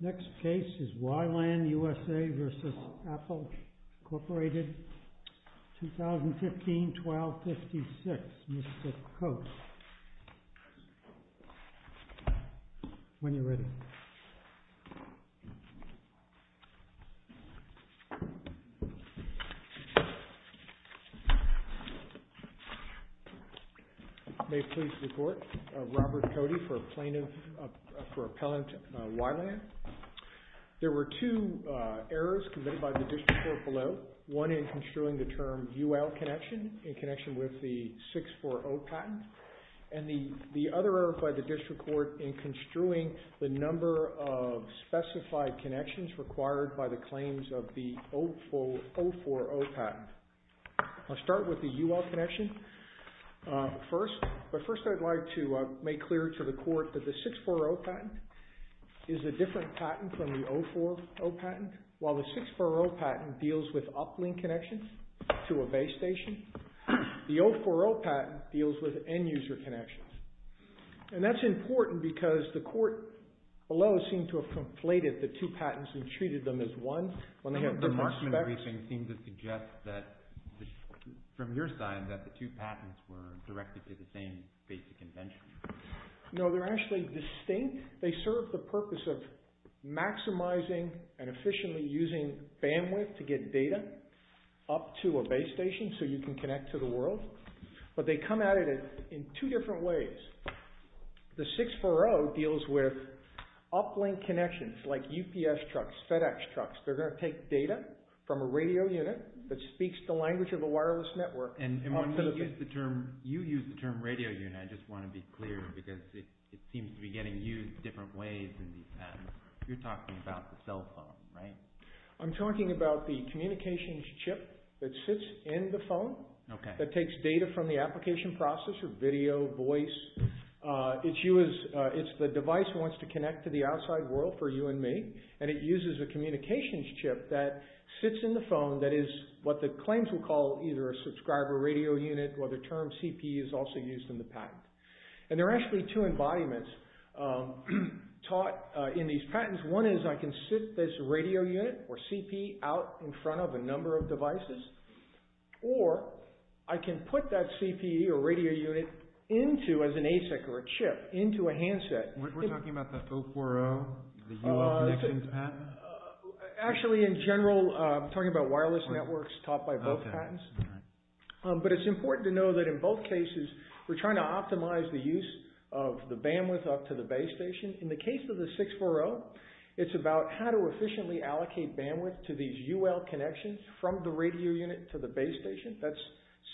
Next case is Wyland, USA v. Apple, Inc., 2015-12-56, Mr. Coates. When you're ready. May please report, Robert Cody for plaintiff, for appellant Wyland. There were two errors committed by the district court below, one in construing the term UL connection in connection with the 640 patent, and the other error by the district court in construing the number of specified connections required by the claims of the 040 patent. I'll start with the UL connection first, but first I'd like to make clear to the court that the 640 patent is a different patent from the 040 patent, while the 640 patent deals with uplink connections to a base station, the 040 patent deals with end-user connections. That's important because the court below seemed to have conflated the two patents and treated them as one. When they have different specs. The markman briefing seems to suggest that, from your side, that the two patents were directed to the same basic invention. No, they're actually distinct. They serve the purpose of maximizing and efficiently using bandwidth to get data up to a base station so you can connect to the world, but they come at it in two different ways. The 640 deals with uplink connections like UPS trucks, FedEx trucks. They're going to take data from a radio unit that speaks the language of a wireless network. You use the term radio unit. I just want to be clear because it seems to be getting used different ways in these patents. You're talking about the cell phone, right? I'm talking about the communications chip that sits in the phone that takes data from the application process or video, voice. It's the device that wants to connect to the outside world for you and me, and it uses a communications chip that sits in the phone that is what the claims will call either a subscriber radio unit or the term CP is also used in the patent. There are actually two embodiments taught in these patents. One is I can sit this radio unit or CP out in front of a number of devices, or I can put that CP or radio unit into, as an ASIC or a chip, into a handset. We're talking about the 040, the UL connections patent? Actually, in general, I'm talking about wireless networks taught by both patents, but it's important to know that in both cases, we're trying to optimize the use of the bandwidth up to the base station. In the case of the 640, it's about how to efficiently allocate bandwidth to these UL connections from the radio unit to the base station. That's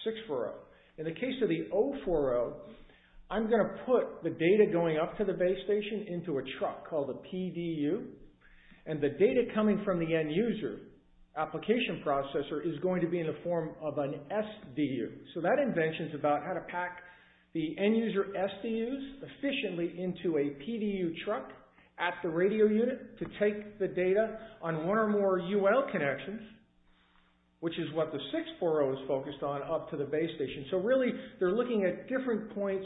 640. In the case of the 040, I'm going to put the data going up to the base station into a truck called the PDU, and the data coming from the end user application processor is going to be in the form of an SDU. That invention is about how to pack the end user SDUs efficiently into a PDU truck at the radio unit to take the data on one or more UL connections, which is what the 640 is focused on, up to the base station. Really, they're looking at different points,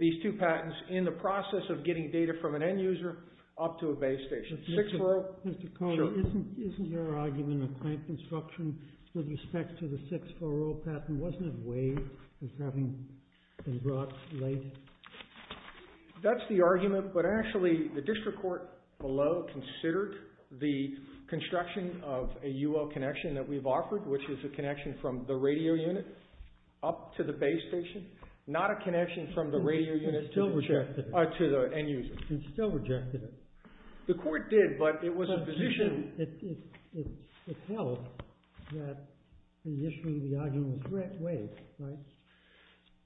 these two patents, in the process of getting data from an end user up to a base station. Sure. Mr. Kolder, isn't your argument of clamp construction with respect to the 640 patent, wasn't it waived as having been brought late? That's the argument, but actually, the district court below considered the construction of a UL connection that we've offered, which is a connection from the radio unit up to the base station, not a connection from the radio unit to the end user. It still rejected it. The court did, but it was a position... It held that initially the argument was waived, right?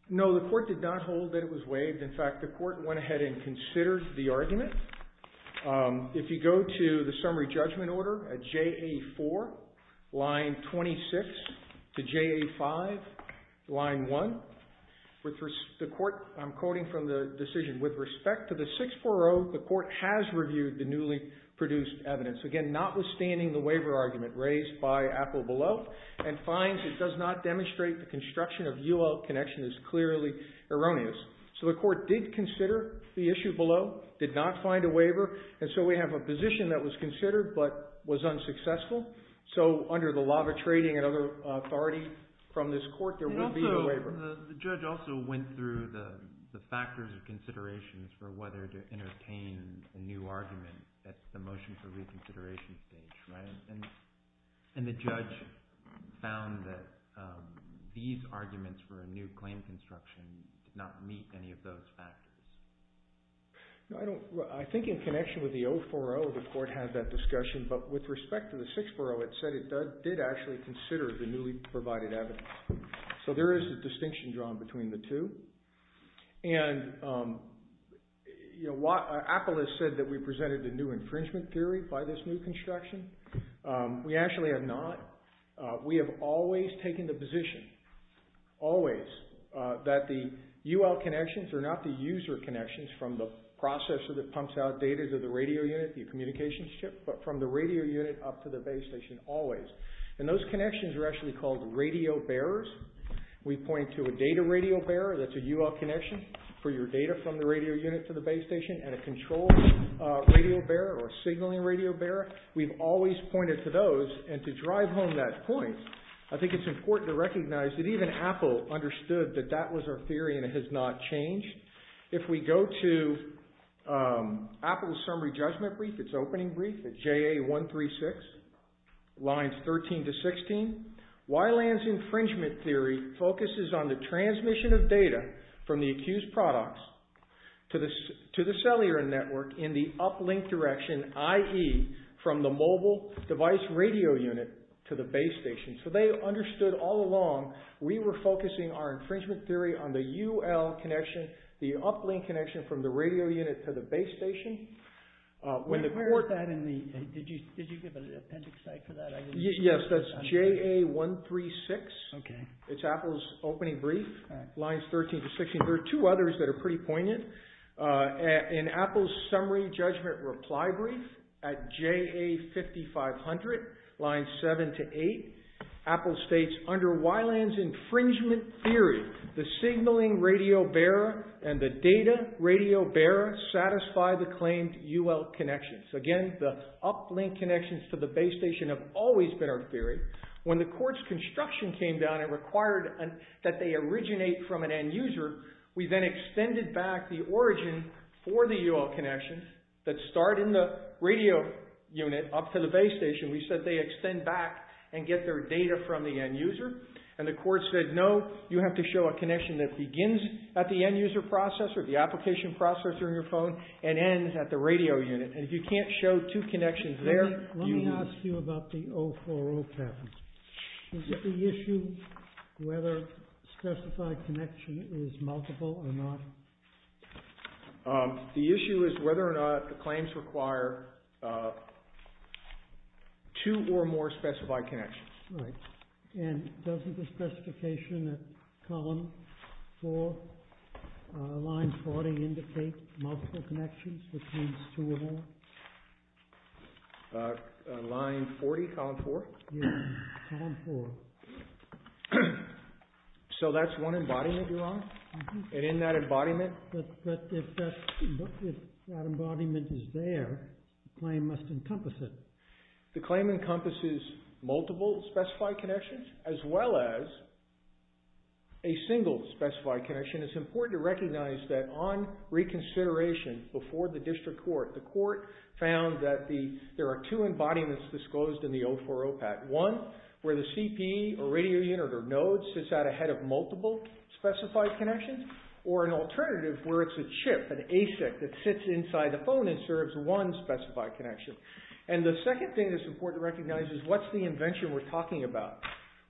No, the court did not hold that it was waived. In fact, the court went ahead and considered the argument. If you go to the summary judgment order at JA4, line 26, to JA5, line 1, the court, I'm quoting from the decision, with respect to the 640, the court has reviewed the newly produced evidence. Again, notwithstanding the waiver argument raised by Apple below, and finds it does not demonstrate the construction of UL connection is clearly erroneous. The court did consider the issue below, did not find a waiver, and so we have a position that was considered, but was unsuccessful. Under the law of trading and other authority from this court, there would be a waiver. The judge also went through the factors of considerations for whether to entertain a new argument at the motion for reconsideration stage, right? And the judge found that these arguments for a new claim construction did not meet any of those factors. I think in connection with the 040, the court had that discussion, but with respect to the 640, it said it did actually consider the newly provided evidence. So there is a distinction drawn between the two. And Apple has said that we presented a new infringement theory by this new construction. We actually have not. We have always taken the position, always, that the UL connections are not the user connections from the processor that pumps out data to the radio unit, the communications chip, but from the radio unit up to the base station, always. And those connections are actually called radio bearers. We point to a data radio bearer that's a UL connection for your data from the radio unit to the base station and a control radio bearer or a signaling radio bearer. We've always pointed to those, and to drive home that point, I think it's important to recognize that even Apple understood that that was our theory and it has not changed. If we go to Apple's summary judgment brief, its opening brief, at JA136, lines 13 to 16, Wyland's infringement theory focuses on the transmission of data from the accused products to the cellular network in the uplink direction, i.e., from the mobile device radio unit to the base station. So they understood all along we were focusing our infringement theory on the UL connection, the uplink connection from the radio unit to the base station. Where is that? Did you give an appendix site for that? Yes, that's JA136. It's Apple's opening brief, lines 13 to 16. There are two others that are pretty poignant. In Apple's summary judgment reply brief at JA5500, lines 7 to 8, Apple states, under Wyland's infringement theory, the signaling radio bearer and the data radio bearer satisfy the claimed UL connections. Again, the uplink connections to the base station have always been our theory. When the court's construction came down, it required that they originate from an end user. We then extended back the origin for the UL connections that start in the radio unit up to the base station. We said they extend back and get their data from the end user. And the court said, no, you have to show a connection that begins at the end user processor, the application processor in your phone, and ends at the radio unit. And if you can't show two connections there... Let me ask you about the 040 pattern. Is it the issue whether specified connection is multiple or not? The issue is whether or not the claims require two or more specified connections. Right. And doesn't the specification at column 4, line 40, indicate multiple connections, which means two or more? Line 40, column 4? Yes, column 4. So that's one embodiment you're on? And in that embodiment... But if that embodiment is there, the claim must encompass it. The claim encompasses multiple specified connections as well as a single specified connection. It's important to recognize that on reconsideration before the district court, the court found that there are two embodiments disclosed in the 040 pattern. One where the CP or radio unit or node sits out ahead of multiple specified connections, or an alternative where it's a chip, an ASIC, that sits inside the phone and serves one specified connection. And the second thing that's important to recognize is what's the invention we're talking about?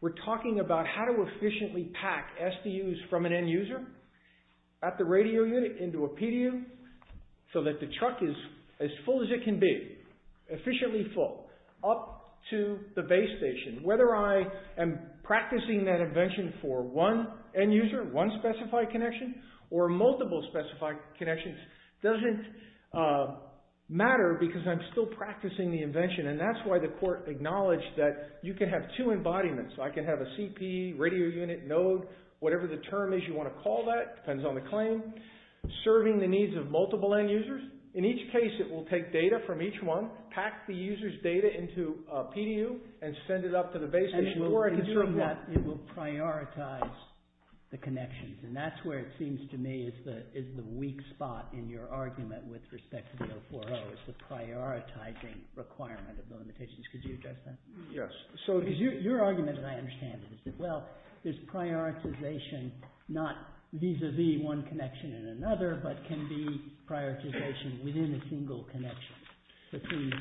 We're talking about how to efficiently pack SDUs from an end user at the radio unit into a PDU so that the truck is as full as it can be, efficiently full, up to the base station. Whether I am practicing that invention for one end user, one specified connection, or multiple specified connections doesn't matter because I'm still practicing the invention, and that's why the court acknowledged that you can have two embodiments. I can have a CP, radio unit, node, whatever the term is you want to call that, depends on the claim, serving the needs of multiple end users. In each case, it will take data from each one, pack the user's data into a PDU, and send it up to the base station... And in doing that, it will prioritize the connections, and that's where it seems to me is the weak spot in your argument with respect to the 040, is the prioritizing requirement of the limitations. Could you address that? Yes. Because your argument, as I understand it, is that, well, there's prioritization not vis-a-vis one connection and another, but can be prioritization within a single connection between the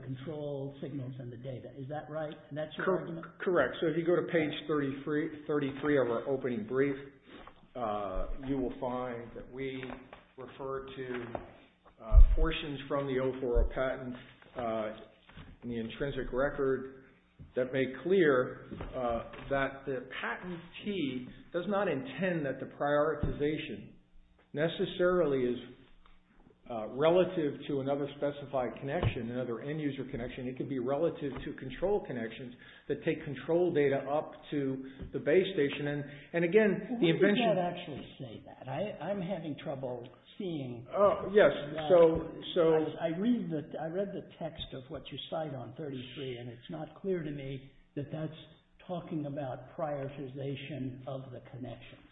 control signals and the data. Is that right? That's your argument? Correct. So if you go to page 33 of our opening brief, you will find that we refer to portions from the 040 patent in the intrinsic record that make clear that the patentee does not intend that the prioritization necessarily is relative to another specified connection, another end user connection. It could be relative to control connections that take control data up to the base station. And again, the invention... Well, why did you not actually say that? I'm having trouble seeing... Oh, yes, so... I read the text of what you cite on 33, and it's not clear to me that that's talking about prioritization of the connections.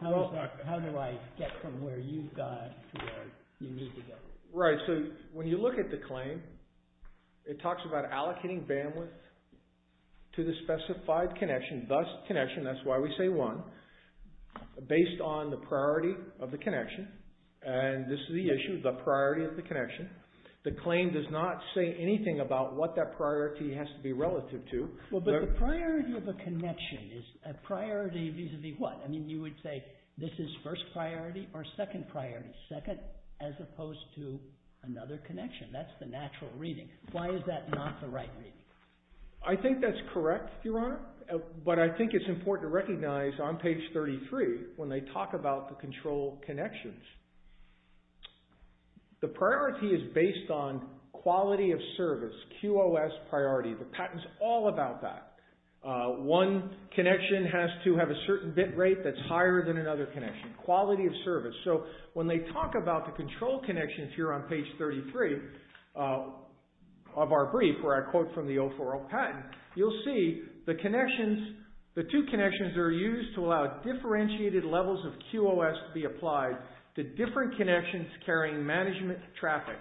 How do I get from where you've got to where you need to go? Right. So when you look at the claim, it talks about allocating bandwidth to the specified connection, thus connection, that's why we say one, based on the priority of the connection. And this is the issue, the priority of the connection. The claim does not say anything about what that priority has to be relative to. Well, but the priority of a connection is a priority vis-a-vis what? I mean, you would say this is first priority or second priority? Second, as opposed to another connection. That's the natural reading. Why is that not the right reading? I think that's correct, Your Honor, but I think it's important to recognize on page 33, when they talk about the control connections, the priority is based on quality of service, QOS priority. The patent's all about that. One connection has to have a certain bit rate that's higher than another connection, quality of service. So when they talk about the control connections here on page 33 of our brief, where I quote from the 040 patent, you'll see the connections, the two connections are used to allow differentiated levels of QOS to be applied to different connections carrying management traffic.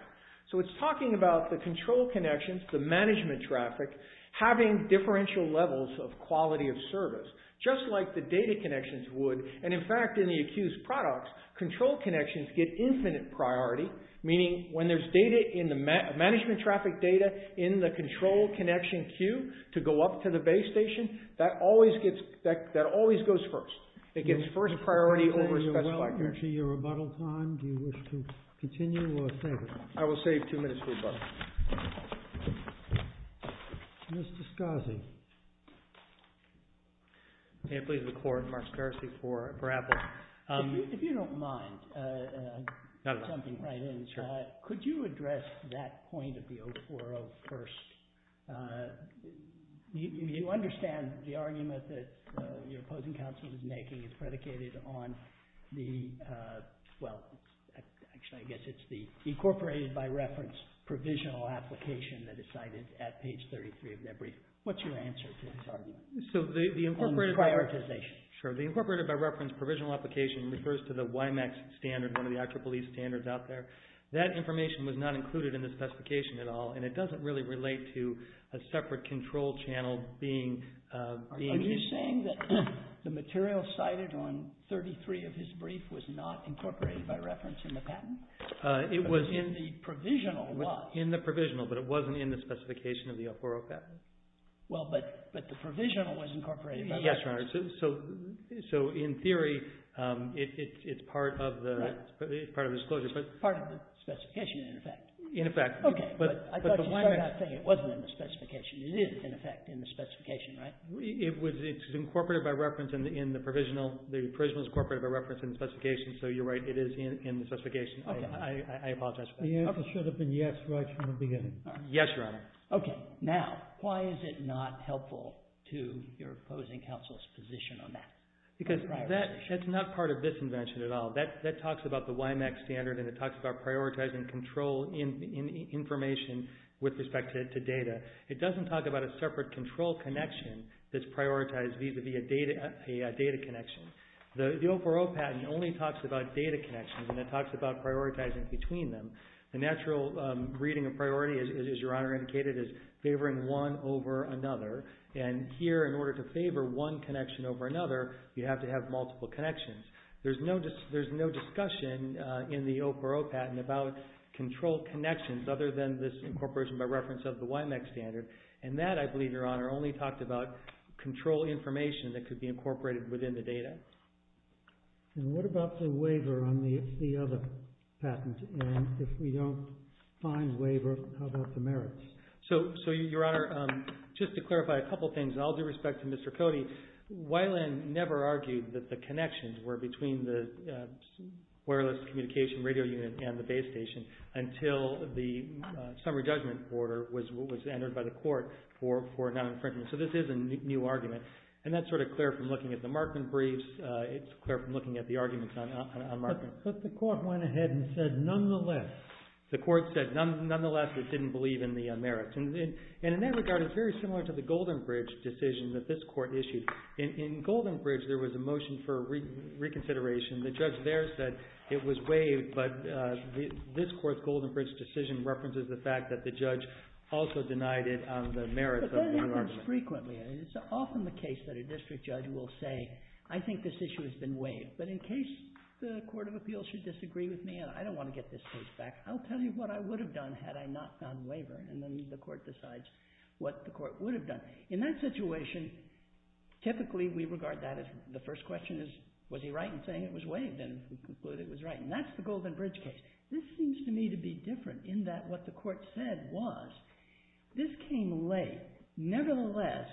So it's talking about the control connections, the management traffic, having differential levels of quality of service, just like the data connections would. And in fact, in the accused products, control connections get infinite priority meaning when there's data in the management traffic data in the control connection queue to go up to the base station, that always goes first. It gets first priority over specific. Your rebuttal time, do you wish to continue or save it? I will save two minutes for rebuttal. Mr. Scarzi. May I please record Mark Scarzi for approval? If you don't mind, I have something to write in. Could you address that point of the 040 first? You understand the argument that your opposing counsel is making is predicated on the, well, actually I guess it's the incorporated by reference provisional application that is cited at page 33 of their brief. What's your answer to this argument? On prioritization. The incorporated by reference provisional application refers to the WIMAX standard, one of the IEEE standards out there. That information was not included in the specification at all and it doesn't really relate to a separate control channel being... Are you saying that the material cited on 33 of his brief was not incorporated by reference in the patent? It was in the provisional. In the provisional, but it wasn't in the specification of the 040 patent. Well, but the provisional was incorporated by reference. Yes, Your Honor. So in theory, it's part of the disclosure. Part of the specification, in effect. In effect. Okay. I thought you started out saying it wasn't in the specification. It is, in effect, in the specification, right? It's incorporated by reference in the provisional. The provisional is incorporated by reference in the specification, so you're right, it is in the specification. I apologize for that. The answer should have been yes right from the beginning. Yes, Your Honor. Okay. Now, why is it not helpful to your opposing counsel's position on that? Because that's not part of this invention at all. That talks about the WIMAC standard and it talks about prioritizing control information with respect to data. It doesn't talk about a separate control connection that's prioritized vis-à-vis a data connection. The 040 patent only talks about data connections and it talks about prioritizing between them. The natural reading of priority, as Your Honor indicated, is favoring one over another. And here, in order to favor one connection over another, you have to have multiple connections. There's no discussion in the 040 patent about control connections other than this incorporation by reference of the WIMAC standard. And that, I believe, Your Honor, only talked about control information that could be incorporated within the data. And what about the waiver on the other patent? And if we don't find waiver, how about the merits? So, Your Honor, just to clarify a couple things, and I'll do respect to Mr. Cody, Weiland never argued that the connections were between the wireless communication radio unit and the base station until the summary judgment order was entered by the court for non-infringement. So this is a new argument. And that's sort of clear from looking at the Markman briefs. It's clear from looking at the arguments on Markman. But the court went ahead and said, nonetheless. The court said, nonetheless, it didn't believe in the merits. And in that regard, it's very similar to the Goldenbridge decision that this court issued. In Goldenbridge, there was a motion for reconsideration. The judge there said it was waived, but this court's Goldenbridge decision references the fact that the judge also denied it on the merits of the argument. But that happens frequently. It's often the case that a district judge will say, I think this issue has been waived. But in case the court of appeals should disagree with me, and I don't want to get this case back, I'll tell you what I would have done had I not done waiver. And then the court decides what the court would have done. In that situation, typically we regard that as the first question is, was he right in saying it was waived? And we conclude it was right. And that's the Goldenbridge case. This seems to me to be different in that what the court said was, this came late. Nevertheless,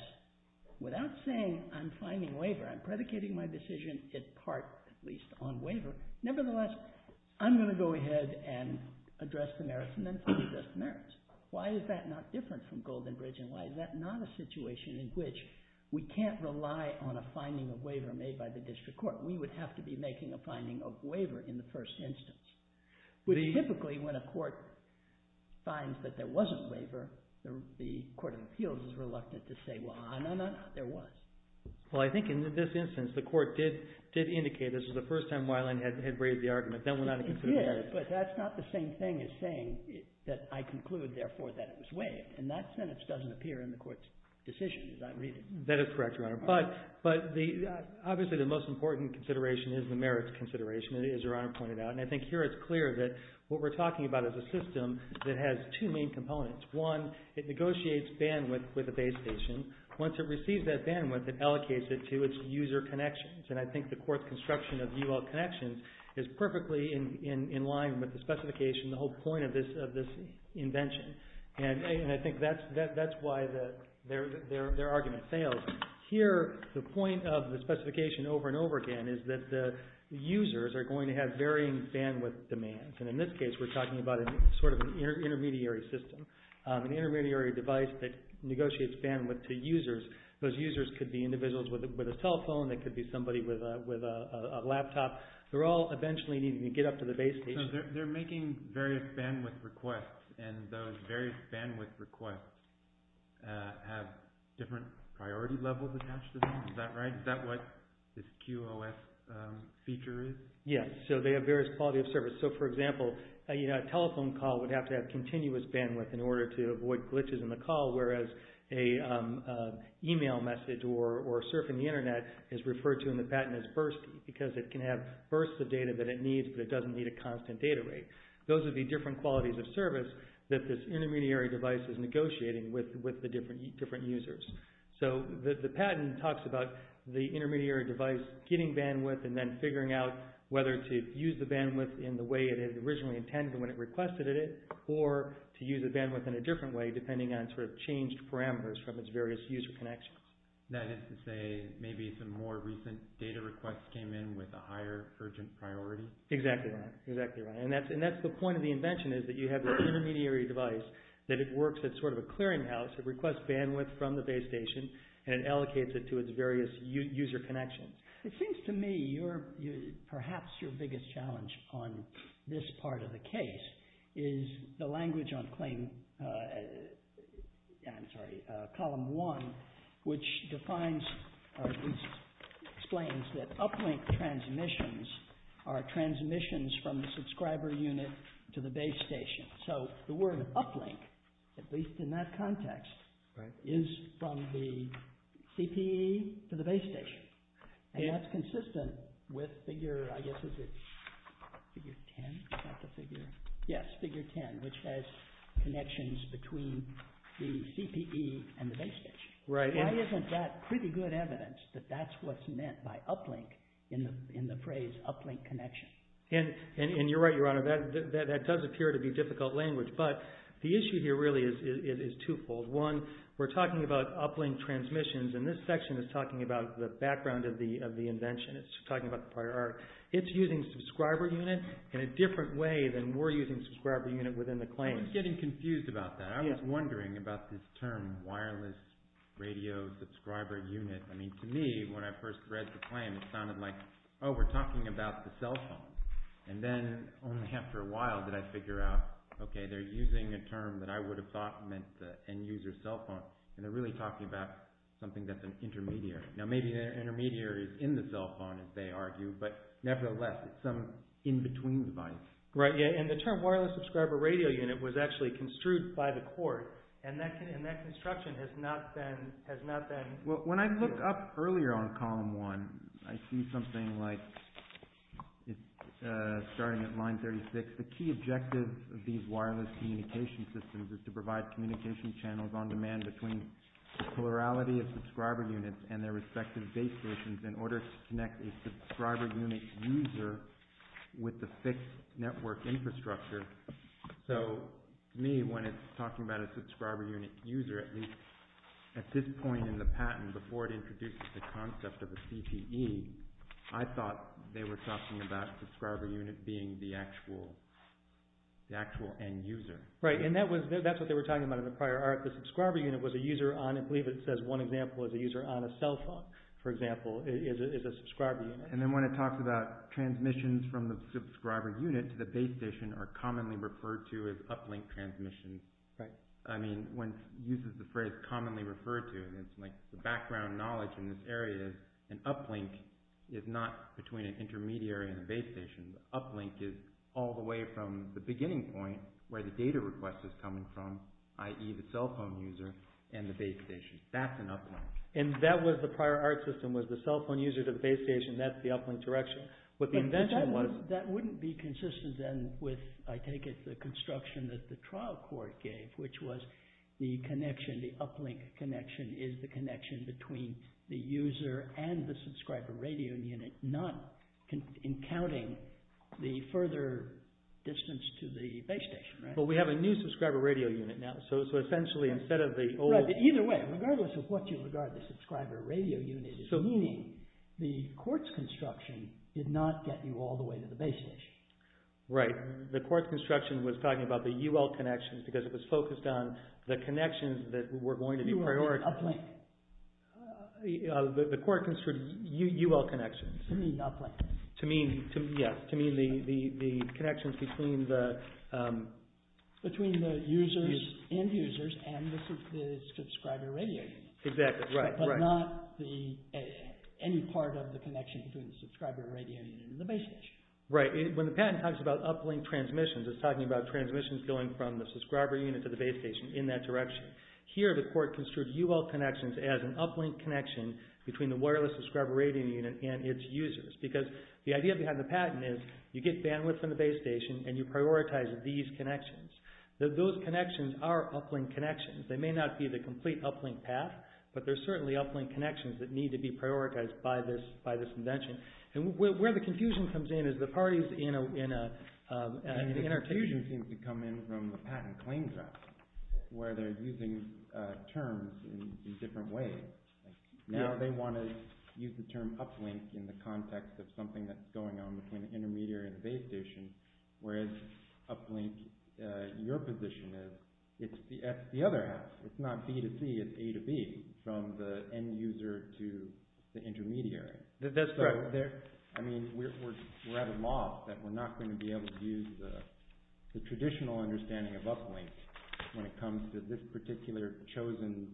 without saying I'm finding waiver, I'm predicating my decision in part, at least, on waiver. Nevertheless, I'm going to go ahead and address the merits and then fully address the merits. Why is that not different from Goldenbridge? And why is that not a situation in which we can't rely on a finding of waiver made by the district court? We would have to be making a finding of waiver in the first instance. Which typically, when a court finds that there wasn't waiver, the court of appeals is reluctant to say, well, no, no, no. There was. Well, I think in this instance, the court did indicate this was the first time Weiland had braved the argument. Then went on to consider the merits. It did. But that's not the same thing as saying that I conclude, therefore, that it was waived. And that sentence doesn't appear in the court's decision, as I read it. That is correct, Your Honor. But obviously, the most important consideration is the merits consideration, as Your Honor pointed out. And I think here it's clear that what we're talking about is a system that has two main components. One, it negotiates bandwidth with the base station. Once it receives that bandwidth, it allocates it to its user connections. And I think the court's construction of UL connections is perfectly in line with the specification, the whole point of this invention. And I think that's why their argument fails. Here, the point of the specification over and over again is that the users are going to have varying bandwidth demands. And in this case, we're talking about sort of an intermediary system, an intermediary device that negotiates bandwidth to users. Those users could be individuals with a telephone. They could be somebody with a laptop. They're all eventually needing to get up to the base station. So they're making various bandwidth requests, and those various bandwidth requests have different priority levels attached to them. Is that right? Is that what this QoS feature is? Yes. So they have various quality of service. So, for example, a telephone call would have to have continuous bandwidth in order to avoid glitches in the call, whereas an email message or surfing the Internet is referred to in the patent as bursty because it can have bursts of data that it needs, but it doesn't need a constant data rate. Those would be different qualities of service that this intermediary device is negotiating with the different users. So the patent talks about the intermediary device getting bandwidth and then figuring out whether to use the bandwidth in the way it had originally intended when it requested it or to use the bandwidth in a different way depending on sort of changed parameters from its various user connections. That is to say, maybe some more recent data requests came in with a higher urgent priority? Exactly right. Exactly right. And that's the point of the invention is that you have this intermediary device that it works as sort of a clearinghouse that requests bandwidth from the base station and allocates it to its various user connections. It seems to me perhaps your biggest challenge on this part of the case is the language on claim... I'm sorry, column one, which defines or at least explains that uplink transmissions are transmissions from the subscriber unit to the base station. So the word uplink, at least in that context, is from the CPE to the base station. And that's consistent with figure, I guess, is it figure 10? Is that the figure? Yes, figure 10, which has connections between the CPE and the base station. Right. Why isn't that pretty good evidence that that's what's meant by uplink in the phrase uplink connection? And you're right, Your Honor, that does appear to be difficult language, but the issue here really is twofold. One, we're talking about uplink transmissions, and this section is talking about the background of the invention. It's talking about the prior art. It's using subscriber unit in a different way than we're using subscriber unit within the claim. I was getting confused about that. I was wondering about this term wireless radio subscriber unit. I mean, to me, when I first read the claim, it sounded like, oh, we're talking about the cell phone. And then only after a while did I figure out, okay, they're using a term that I would have thought meant the end user cell phone, and they're really talking about something that's an intermediary. Now, maybe the intermediary is in the cell phone, as they argue, but nevertheless, it's some in-between device. Right, yeah, and the term wireless subscriber radio unit was actually construed by the court, and that construction has not been... When I look up earlier on column one, I see something like, starting at line 36, the key objective of these wireless communication systems is to provide communication channels on demand between the plurality of subscriber units and their respective base stations in order to connect a subscriber unit user with the fixed network infrastructure. So, to me, when it's talking about a subscriber unit user, at least at this point in the patent, before it introduces the concept of a CTE, I thought they were talking about a subscriber unit being the actual end user. Right, and that's what they were talking about in the prior art. The subscriber unit was a user on, I believe it says one example, is a user on a cell phone, for example, is a subscriber unit. And then when it talks about transmissions from the subscriber unit to the base station are commonly referred to as uplink transmissions. Right. I mean, when it uses the phrase commonly referred to, it's like the background knowledge in this area, an uplink is not between an intermediary and a base station. An uplink is all the way from the beginning point where the data request is coming from, i.e. the cell phone user and the base station. That's an uplink. And that was the prior art system, was the cell phone user to the base station, that's the uplink direction. But that wouldn't be consistent then with, I take it, the construction that the trial court gave, which was the connection, the uplink connection, is the connection between the user and the subscriber radio unit, not in counting the further distance to the base station, right? But we have a new subscriber radio unit now, so essentially instead of the old... Either way, regardless of what you regard the subscriber radio unit as meaning, the court's construction did not get you all the way to the base station. Right. The court's construction was talking about the UL connections because it was focused on the connections that were going to be prioritized. UL, uplink. The court construed UL connections. To mean uplink. To mean, yeah, to mean the connections between the... Between the users, end users, and the subscriber radio unit. Exactly, right, right. But not any part of the connection between the subscriber radio unit and the base station. Right. When the patent talks about uplink transmissions, it's talking about transmissions going from the subscriber unit to the base station in that direction. Here, the court construed UL connections as an uplink connection between the wireless subscriber radio unit and its users. Because the idea behind the patent is you get bandwidth from the base station and you prioritize these connections. Those connections are uplink connections. They may not be the complete uplink path, but they're certainly uplink connections that need to be prioritized by this invention. And where the confusion comes in is the parties in a... And the confusion seems to come in from the patent claim draft where they're using terms in different ways. Now they want to use the term uplink in the context of something that's going on between the intermediary and the base station, whereas uplink, your position is it's the other half. It's not B to C. It's A to B from the end user to the intermediary. That's correct. I mean, we're at a loss that we're not going to be able to use the traditional understanding of uplink when it comes to this particular chosen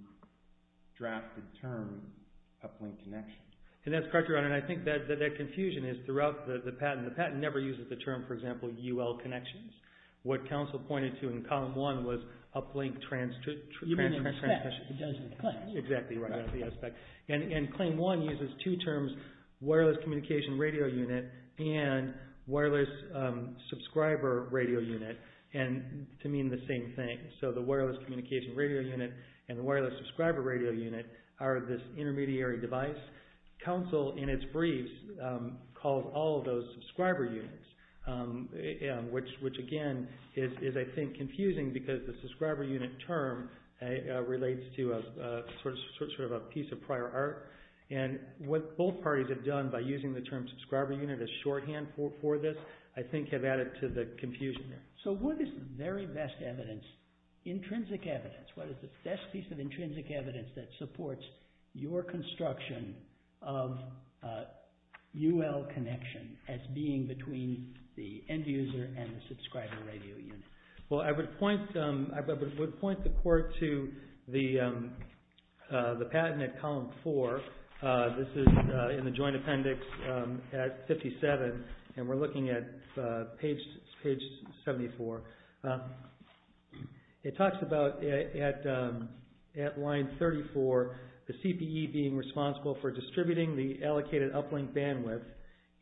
drafted term uplink connection. And that's correct, Your Honor. And I think that confusion is throughout the patent. The patent never uses the term, for example, UL connections. What counsel pointed to in column one was uplink transmission. You mean the aspect. Exactly right. The aspect. And claim one uses two terms, wireless communication radio unit and wireless subscriber radio unit to mean the same thing. So the wireless communication radio unit and the wireless subscriber radio unit are this intermediary device. Counsel in its brief calls all of those subscriber units, which again is, I think, confusing because the subscriber unit term relates to a piece of prior art. And what both parties have done by using the term subscriber unit as shorthand for this, I think have added to the confusion. So what is the very best evidence, intrinsic evidence, what is the best piece of intrinsic evidence that supports your construction of UL connection as being between the end user and the subscriber radio unit? Well, I would point the court to the patent at column four. This is in the joint appendix at 57 and we're looking at page 74. It talks about at line 34, the CPE being responsible for distributing the allocated uplink bandwidth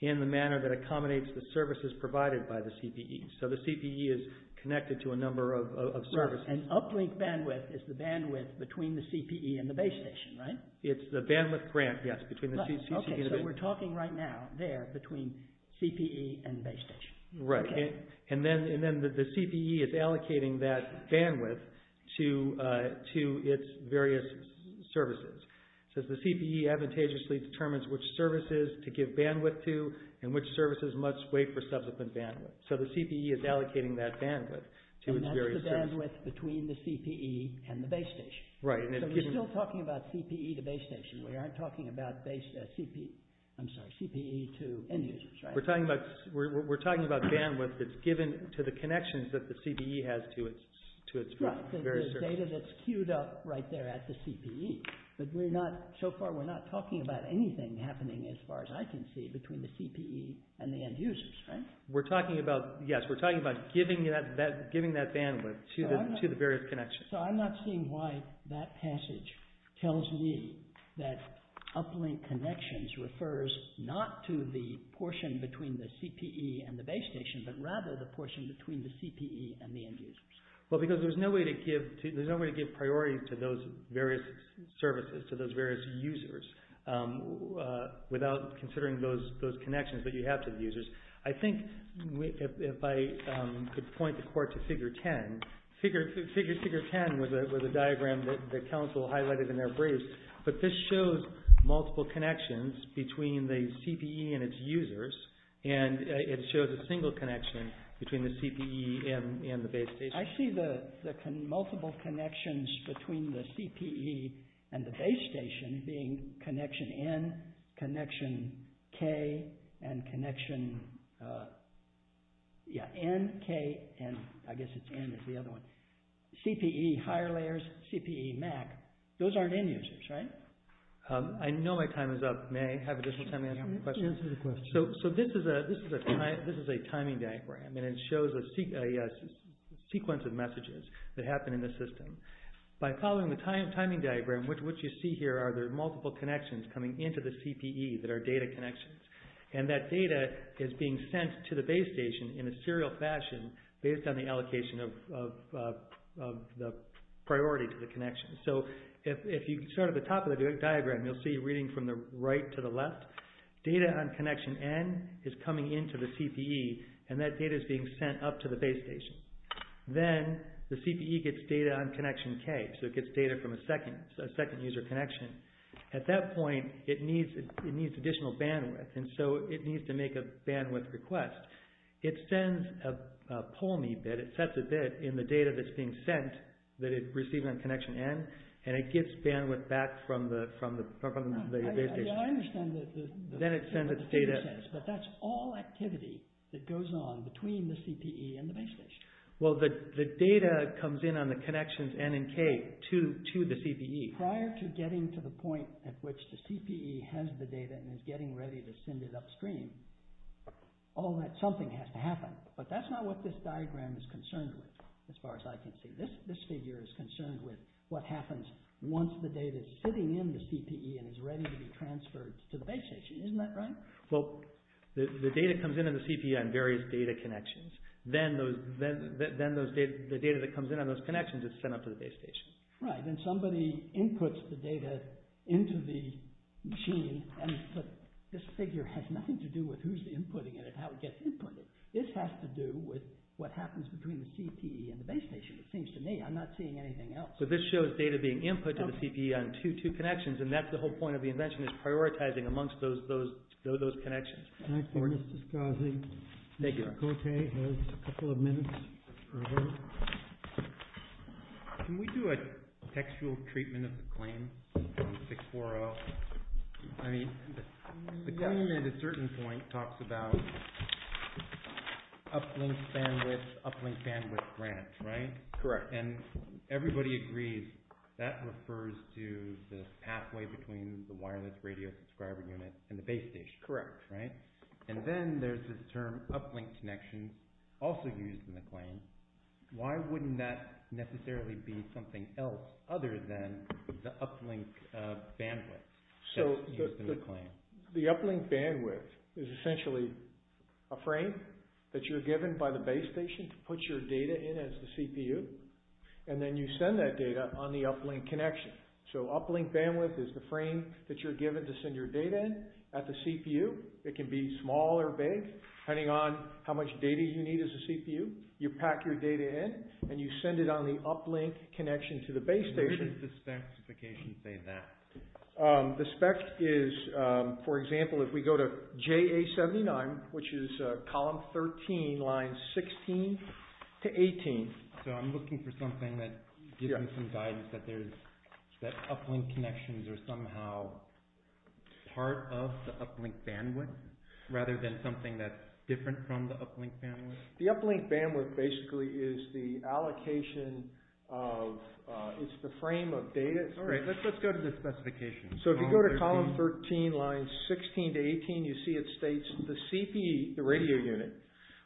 in the manner that accommodates the services provided by the CPE. So the CPE is connected to a number of services. Right, and uplink bandwidth is the bandwidth between the CPE and the base station, right? It's the bandwidth grant, yes, between the CPE and the base station. Okay, so we're talking right now there between CPE and base station. Right, and then the CPE is allocating that bandwidth to its various services. So the CPE advantageously determines which services to give bandwidth to and which services must wait for subsequent bandwidth. So the CPE is allocating that bandwidth to its various services. And that's the bandwidth between the CPE and the base station. Right. So we're still talking about CPE to base station. We aren't talking about CPE to end users, right? We're talking about bandwidth that's given to the connections that the CPE has to its various services. Right, the data that's queued up right there at the CPE. But so far we're not talking about anything happening, as far as I can see, between the CPE and the end users, right? We're talking about, yes, we're talking about giving that bandwidth to the various connections. So I'm not seeing why that passage tells me that uplink connections refers not to the portion between the CPE and the base station, but rather the portion between the CPE and the end users. Well, because there's no way to give priorities to those various services, to those various users, without considering those connections that you have to the users. I think if I could point the court to Figure 10. Figure 10 was a diagram that the Council highlighted in their briefs, but this shows multiple connections between the CPE and its users, and it shows a single connection between the CPE and the base station. I see the multiple connections between the CPE and the base station being connection N, connection K, and connection, yeah, N, K, and I guess it's N is the other one. CPE, higher layers, CPE, MAC, those aren't end users, right? I know my time is up. May I have additional time to answer some questions? Answer the question. So this is a timing diagram, and it shows a sequence of messages that happen in the system. By following the timing diagram, what you see here are the multiple connections coming into the CPE that are data connections, and that data is being sent to the base station in a serial fashion based on the allocation of the priority to the connection. So if you start at the top of the diagram, you'll see reading from the right to the left, data on connection N is coming into the CPE, and that data is being sent up to the base station. Then the CPE gets data on connection K, so it gets data from a second user connection. At that point, it needs additional bandwidth, and so it needs to make a bandwidth request. It sends a pull-me bit. It sets a bit in the data that's being sent that it received on connection N, and it gets bandwidth back from the base station. I understand that the figure says, but that's all activity that goes on between the CPE and the base station. Well, the data comes in on the connections N and K to the CPE. Prior to getting to the point at which the CPE has the data and is getting ready to send it upstream, something has to happen, but that's not what this diagram is concerned with, as far as I can see. This figure is concerned with what happens once the data is sitting in the CPE and is ready to be transferred to the base station. Isn't that right? Well, the data comes in on the CPE on various data connections. Then the data that comes in on those connections is sent up to the base station. Right, and somebody inputs the data into the machine, and this figure has nothing to do with who's inputting it and how it gets inputted. This has to do with what happens between the CPE and the base station. It seems to me I'm not seeing anything else. So this shows data being input to the CPE on two connections, and that's the whole point of the invention is prioritizing amongst those connections. Can I finish discussing? Thank you. Mr. Cote has a couple of minutes. Can we do a textual treatment of the claim from 640? I mean, the claim at a certain point talks about uplink bandwidth, uplink bandwidth grant, right? Correct. And everybody agrees that refers to the pathway between the wireless radio subscriber unit and the base station, right? Correct. And then there's this term uplink connection also used in the claim. Why wouldn't that necessarily be something else other than the uplink bandwidth that's used in the claim? The uplink bandwidth is essentially a frame that you're given by the base station to put your data in as the CPU, and then you send that data on the uplink connection. So uplink bandwidth is the frame that you're given to send your data in at the CPU. It can be small or big, depending on how much data you need as a CPU. You pack your data in, and you send it on the uplink connection to the base station. What does the specification say there? The spec is, for example, if we go to JA79, which is column 13, lines 16 to 18. So I'm looking for something that gives me some guidance that uplink connections are somehow part of the uplink bandwidth rather than something that's different from the uplink bandwidth? The uplink bandwidth basically is the allocation of, it's the frame of data. All right, let's go to the specifications. So if you go to column 13, lines 16 to 18, you see it states the CPU, the radio unit,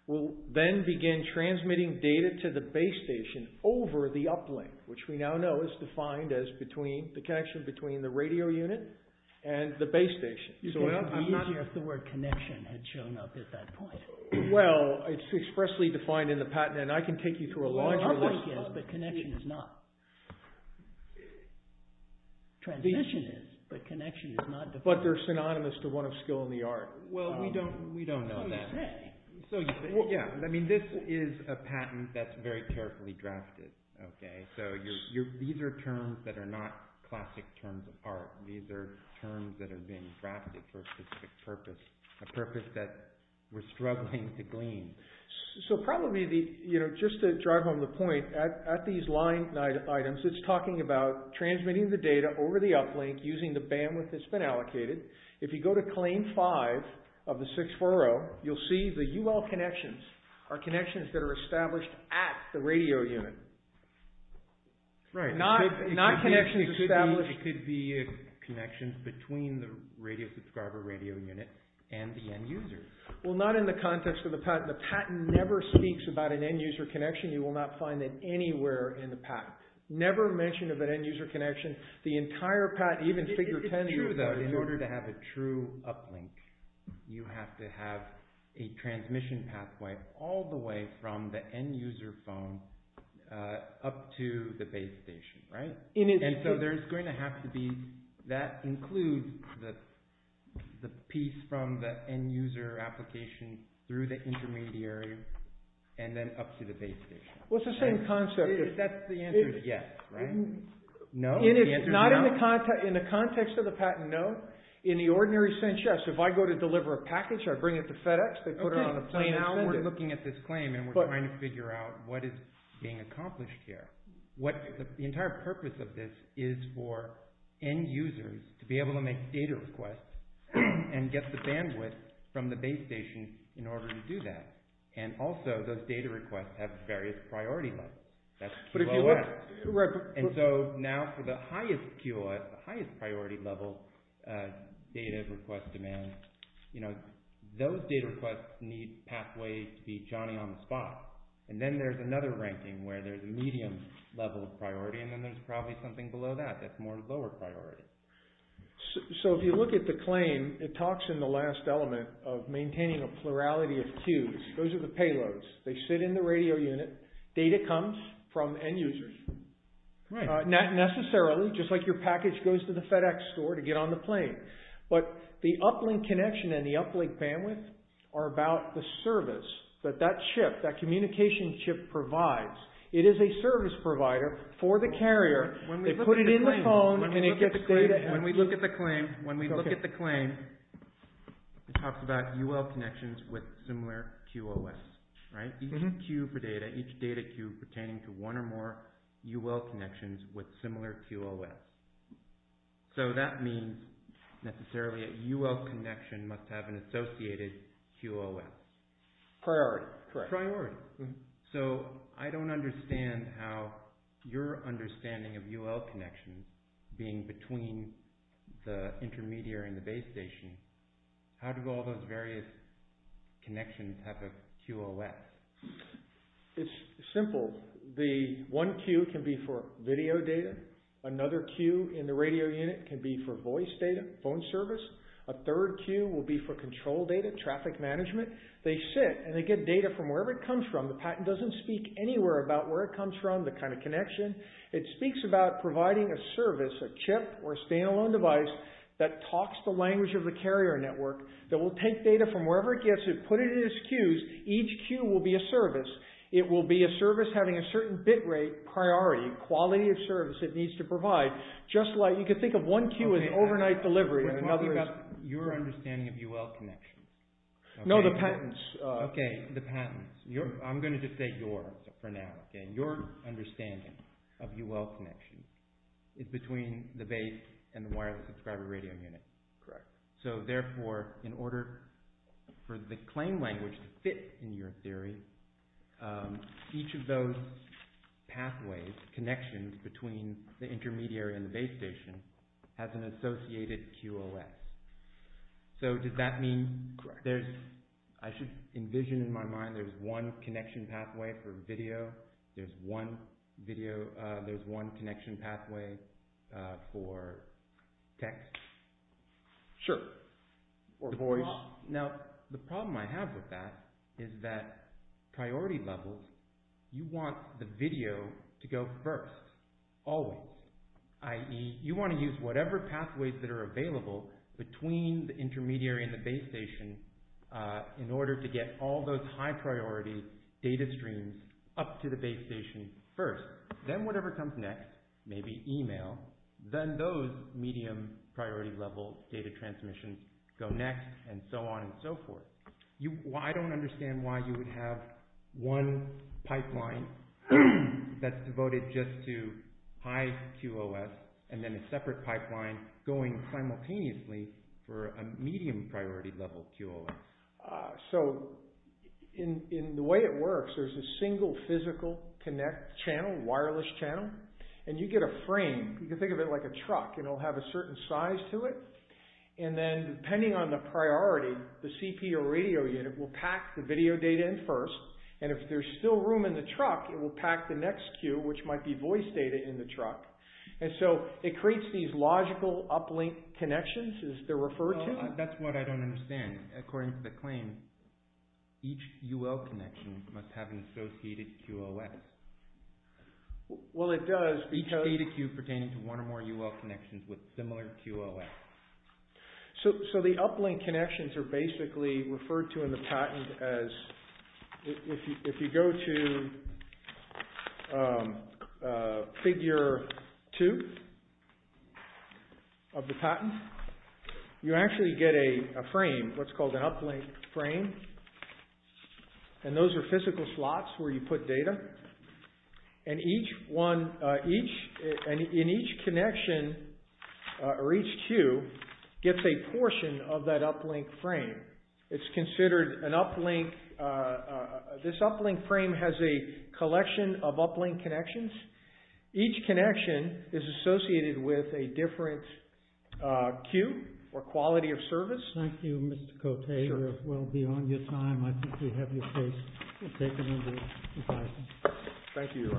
will then begin transmitting data to the base station over the uplink, which we now know is defined as between the connection between the radio unit and the base station. It would be easier if the word connection had shown up at that point. Well, it's expressly defined in the patent, and I can take you through a larger list. The uplink is, but connection is not. Transmission is, but connection is not. But they're synonymous to one of skill in the art. Well, we don't know that. So, yeah, I mean, this is a patent that's very carefully drafted, okay? So these are terms that are not classic terms of art. These are terms that are being drafted for a specific purpose, a purpose that we're struggling to glean. So probably, you know, just to drive home the point, at these line items, it's talking about transmitting the data over the uplink using the bandwidth that's been allocated. If you go to claim five of the 640, you'll see the UL connections are connections that are established at the radio unit. Not connections established... It could be connections between the radio subscriber radio unit and the end user. Well, not in the context of the patent. The patent never speaks about an end user connection. You will not find it anywhere in the patent. Never mentioned of an end user connection. The entire patent, even figure 10... It's true, though. In order to have a true uplink, you have to have a transmission pathway all the way from the end user phone up to the base station, right? And so there's going to have to be... That includes the piece from the end user application through the intermediary and then up to the base station. Well, it's the same concept. If that's the answer, then yes, right? No? If it's not in the context of the patent, no. In the ordinary sense, yes. If I go to deliver a package, I bring it to FedEx, they put it on the plane and send it. Now we're looking at this claim and we're trying to figure out what is being accomplished here. The entire purpose of this is for end users to be able to make data requests and get the bandwidth from the base station in order to do that. And also those data requests have various priority levels. That's QOS. And so now for the highest QOS, the highest priority level data request demand, you know, those data requests need pathways to be Johnny-on-the-spot. And then there's another ranking where there's a medium level of priority and then there's probably something below that that's more lower priority. So if you look at the claim, it talks in the last element of maintaining a plurality of queues. Those are the payloads. They sit in the radio unit. Data comes from end users. Not necessarily, just like your package goes to the FedEx store to get on the plane. But the uplink connection and the uplink bandwidth are about the service that that chip, that communication chip provides. It is a service provider for the carrier. They put it in the phone and it gets data. When we look at the claim, when we look at the claim, it talks about UL connections with similar QOS. Each queue for data, each data queue pertaining to one or more UL connections with similar QOS. So that means necessarily a UL connection must have an associated QOS. Priority. Priority. So I don't understand how your understanding of UL connections being between the intermediary and the base station, how do all those various connections have a QOS? It's simple. The one queue can be for video data. Another queue in the radio unit can be for voice data, phone service. A third queue will be for control data, traffic management. They sit and they get data from wherever it comes from. The patent doesn't speak anywhere about where it comes from, the kind of connection. It speaks about providing a service, a chip or a stand-alone device that talks the language of the carrier network, that will take data from wherever it gets it, put it in its queues. Each queue will be a service. It will be a service having a certain bit rate, priority, quality of service it needs to provide. Just like, you can think of one queue as overnight delivery and another is... Your understanding of UL connections. No, the patents. Okay, the patents. I'm going to just say your for now. Your understanding of UL connections is between the base and the wireless subscriber radio unit. Correct. So therefore, in order for the claim language to fit in your theory, each of those pathways, connections, between the intermediary and the base station has an associated QOS. So does that mean... Correct. There's... I should envision in my mind there's one connection pathway for video. There's one video... for text. Sure. Or voice. Now, the problem I have with that is that priority levels, you want the video to go first. Always. I.e., you want to use whatever pathways that are available between the intermediary and the base station in order to get all those high priority data streams up to the base station first. Then whatever comes next, maybe email, then those medium priority level data transmissions go next and so on and so forth. I don't understand why you would have one pipeline that's devoted just to high QOS and then a separate pipeline going simultaneously for a medium priority level QOS. So, in the way it works, there's a single physical connect channel, wireless channel, and you get a frame. You can think of it like a truck and it'll have a certain size to it. And then, depending on the priority, the CP or radio unit will pack the video data in first and if there's still room in the truck, it will pack the next Q which might be voice data in the truck. And so, it creates these logical uplink connections as they're referred to. That's what I don't understand. According to the claim, each UL connection must have an associated QOS. Well, it does. Each data Q pertaining to one or more UL connections with similar QOS. So, the uplink connections are basically referred to in the patent as, if you go to figure 2 of the patent, you actually get a frame, what's called an uplink frame. And those are physical slots where you put data. And each one, in each connection or each Q gets a portion of that uplink frame. It's considered an uplink, this uplink frame has a collection of uplink connections. Each connection is associated with a different Q or quality of service. Thank you, Mr. Cote. Sure. We'll be on your time. I think we have your case taken into consideration. Thank you.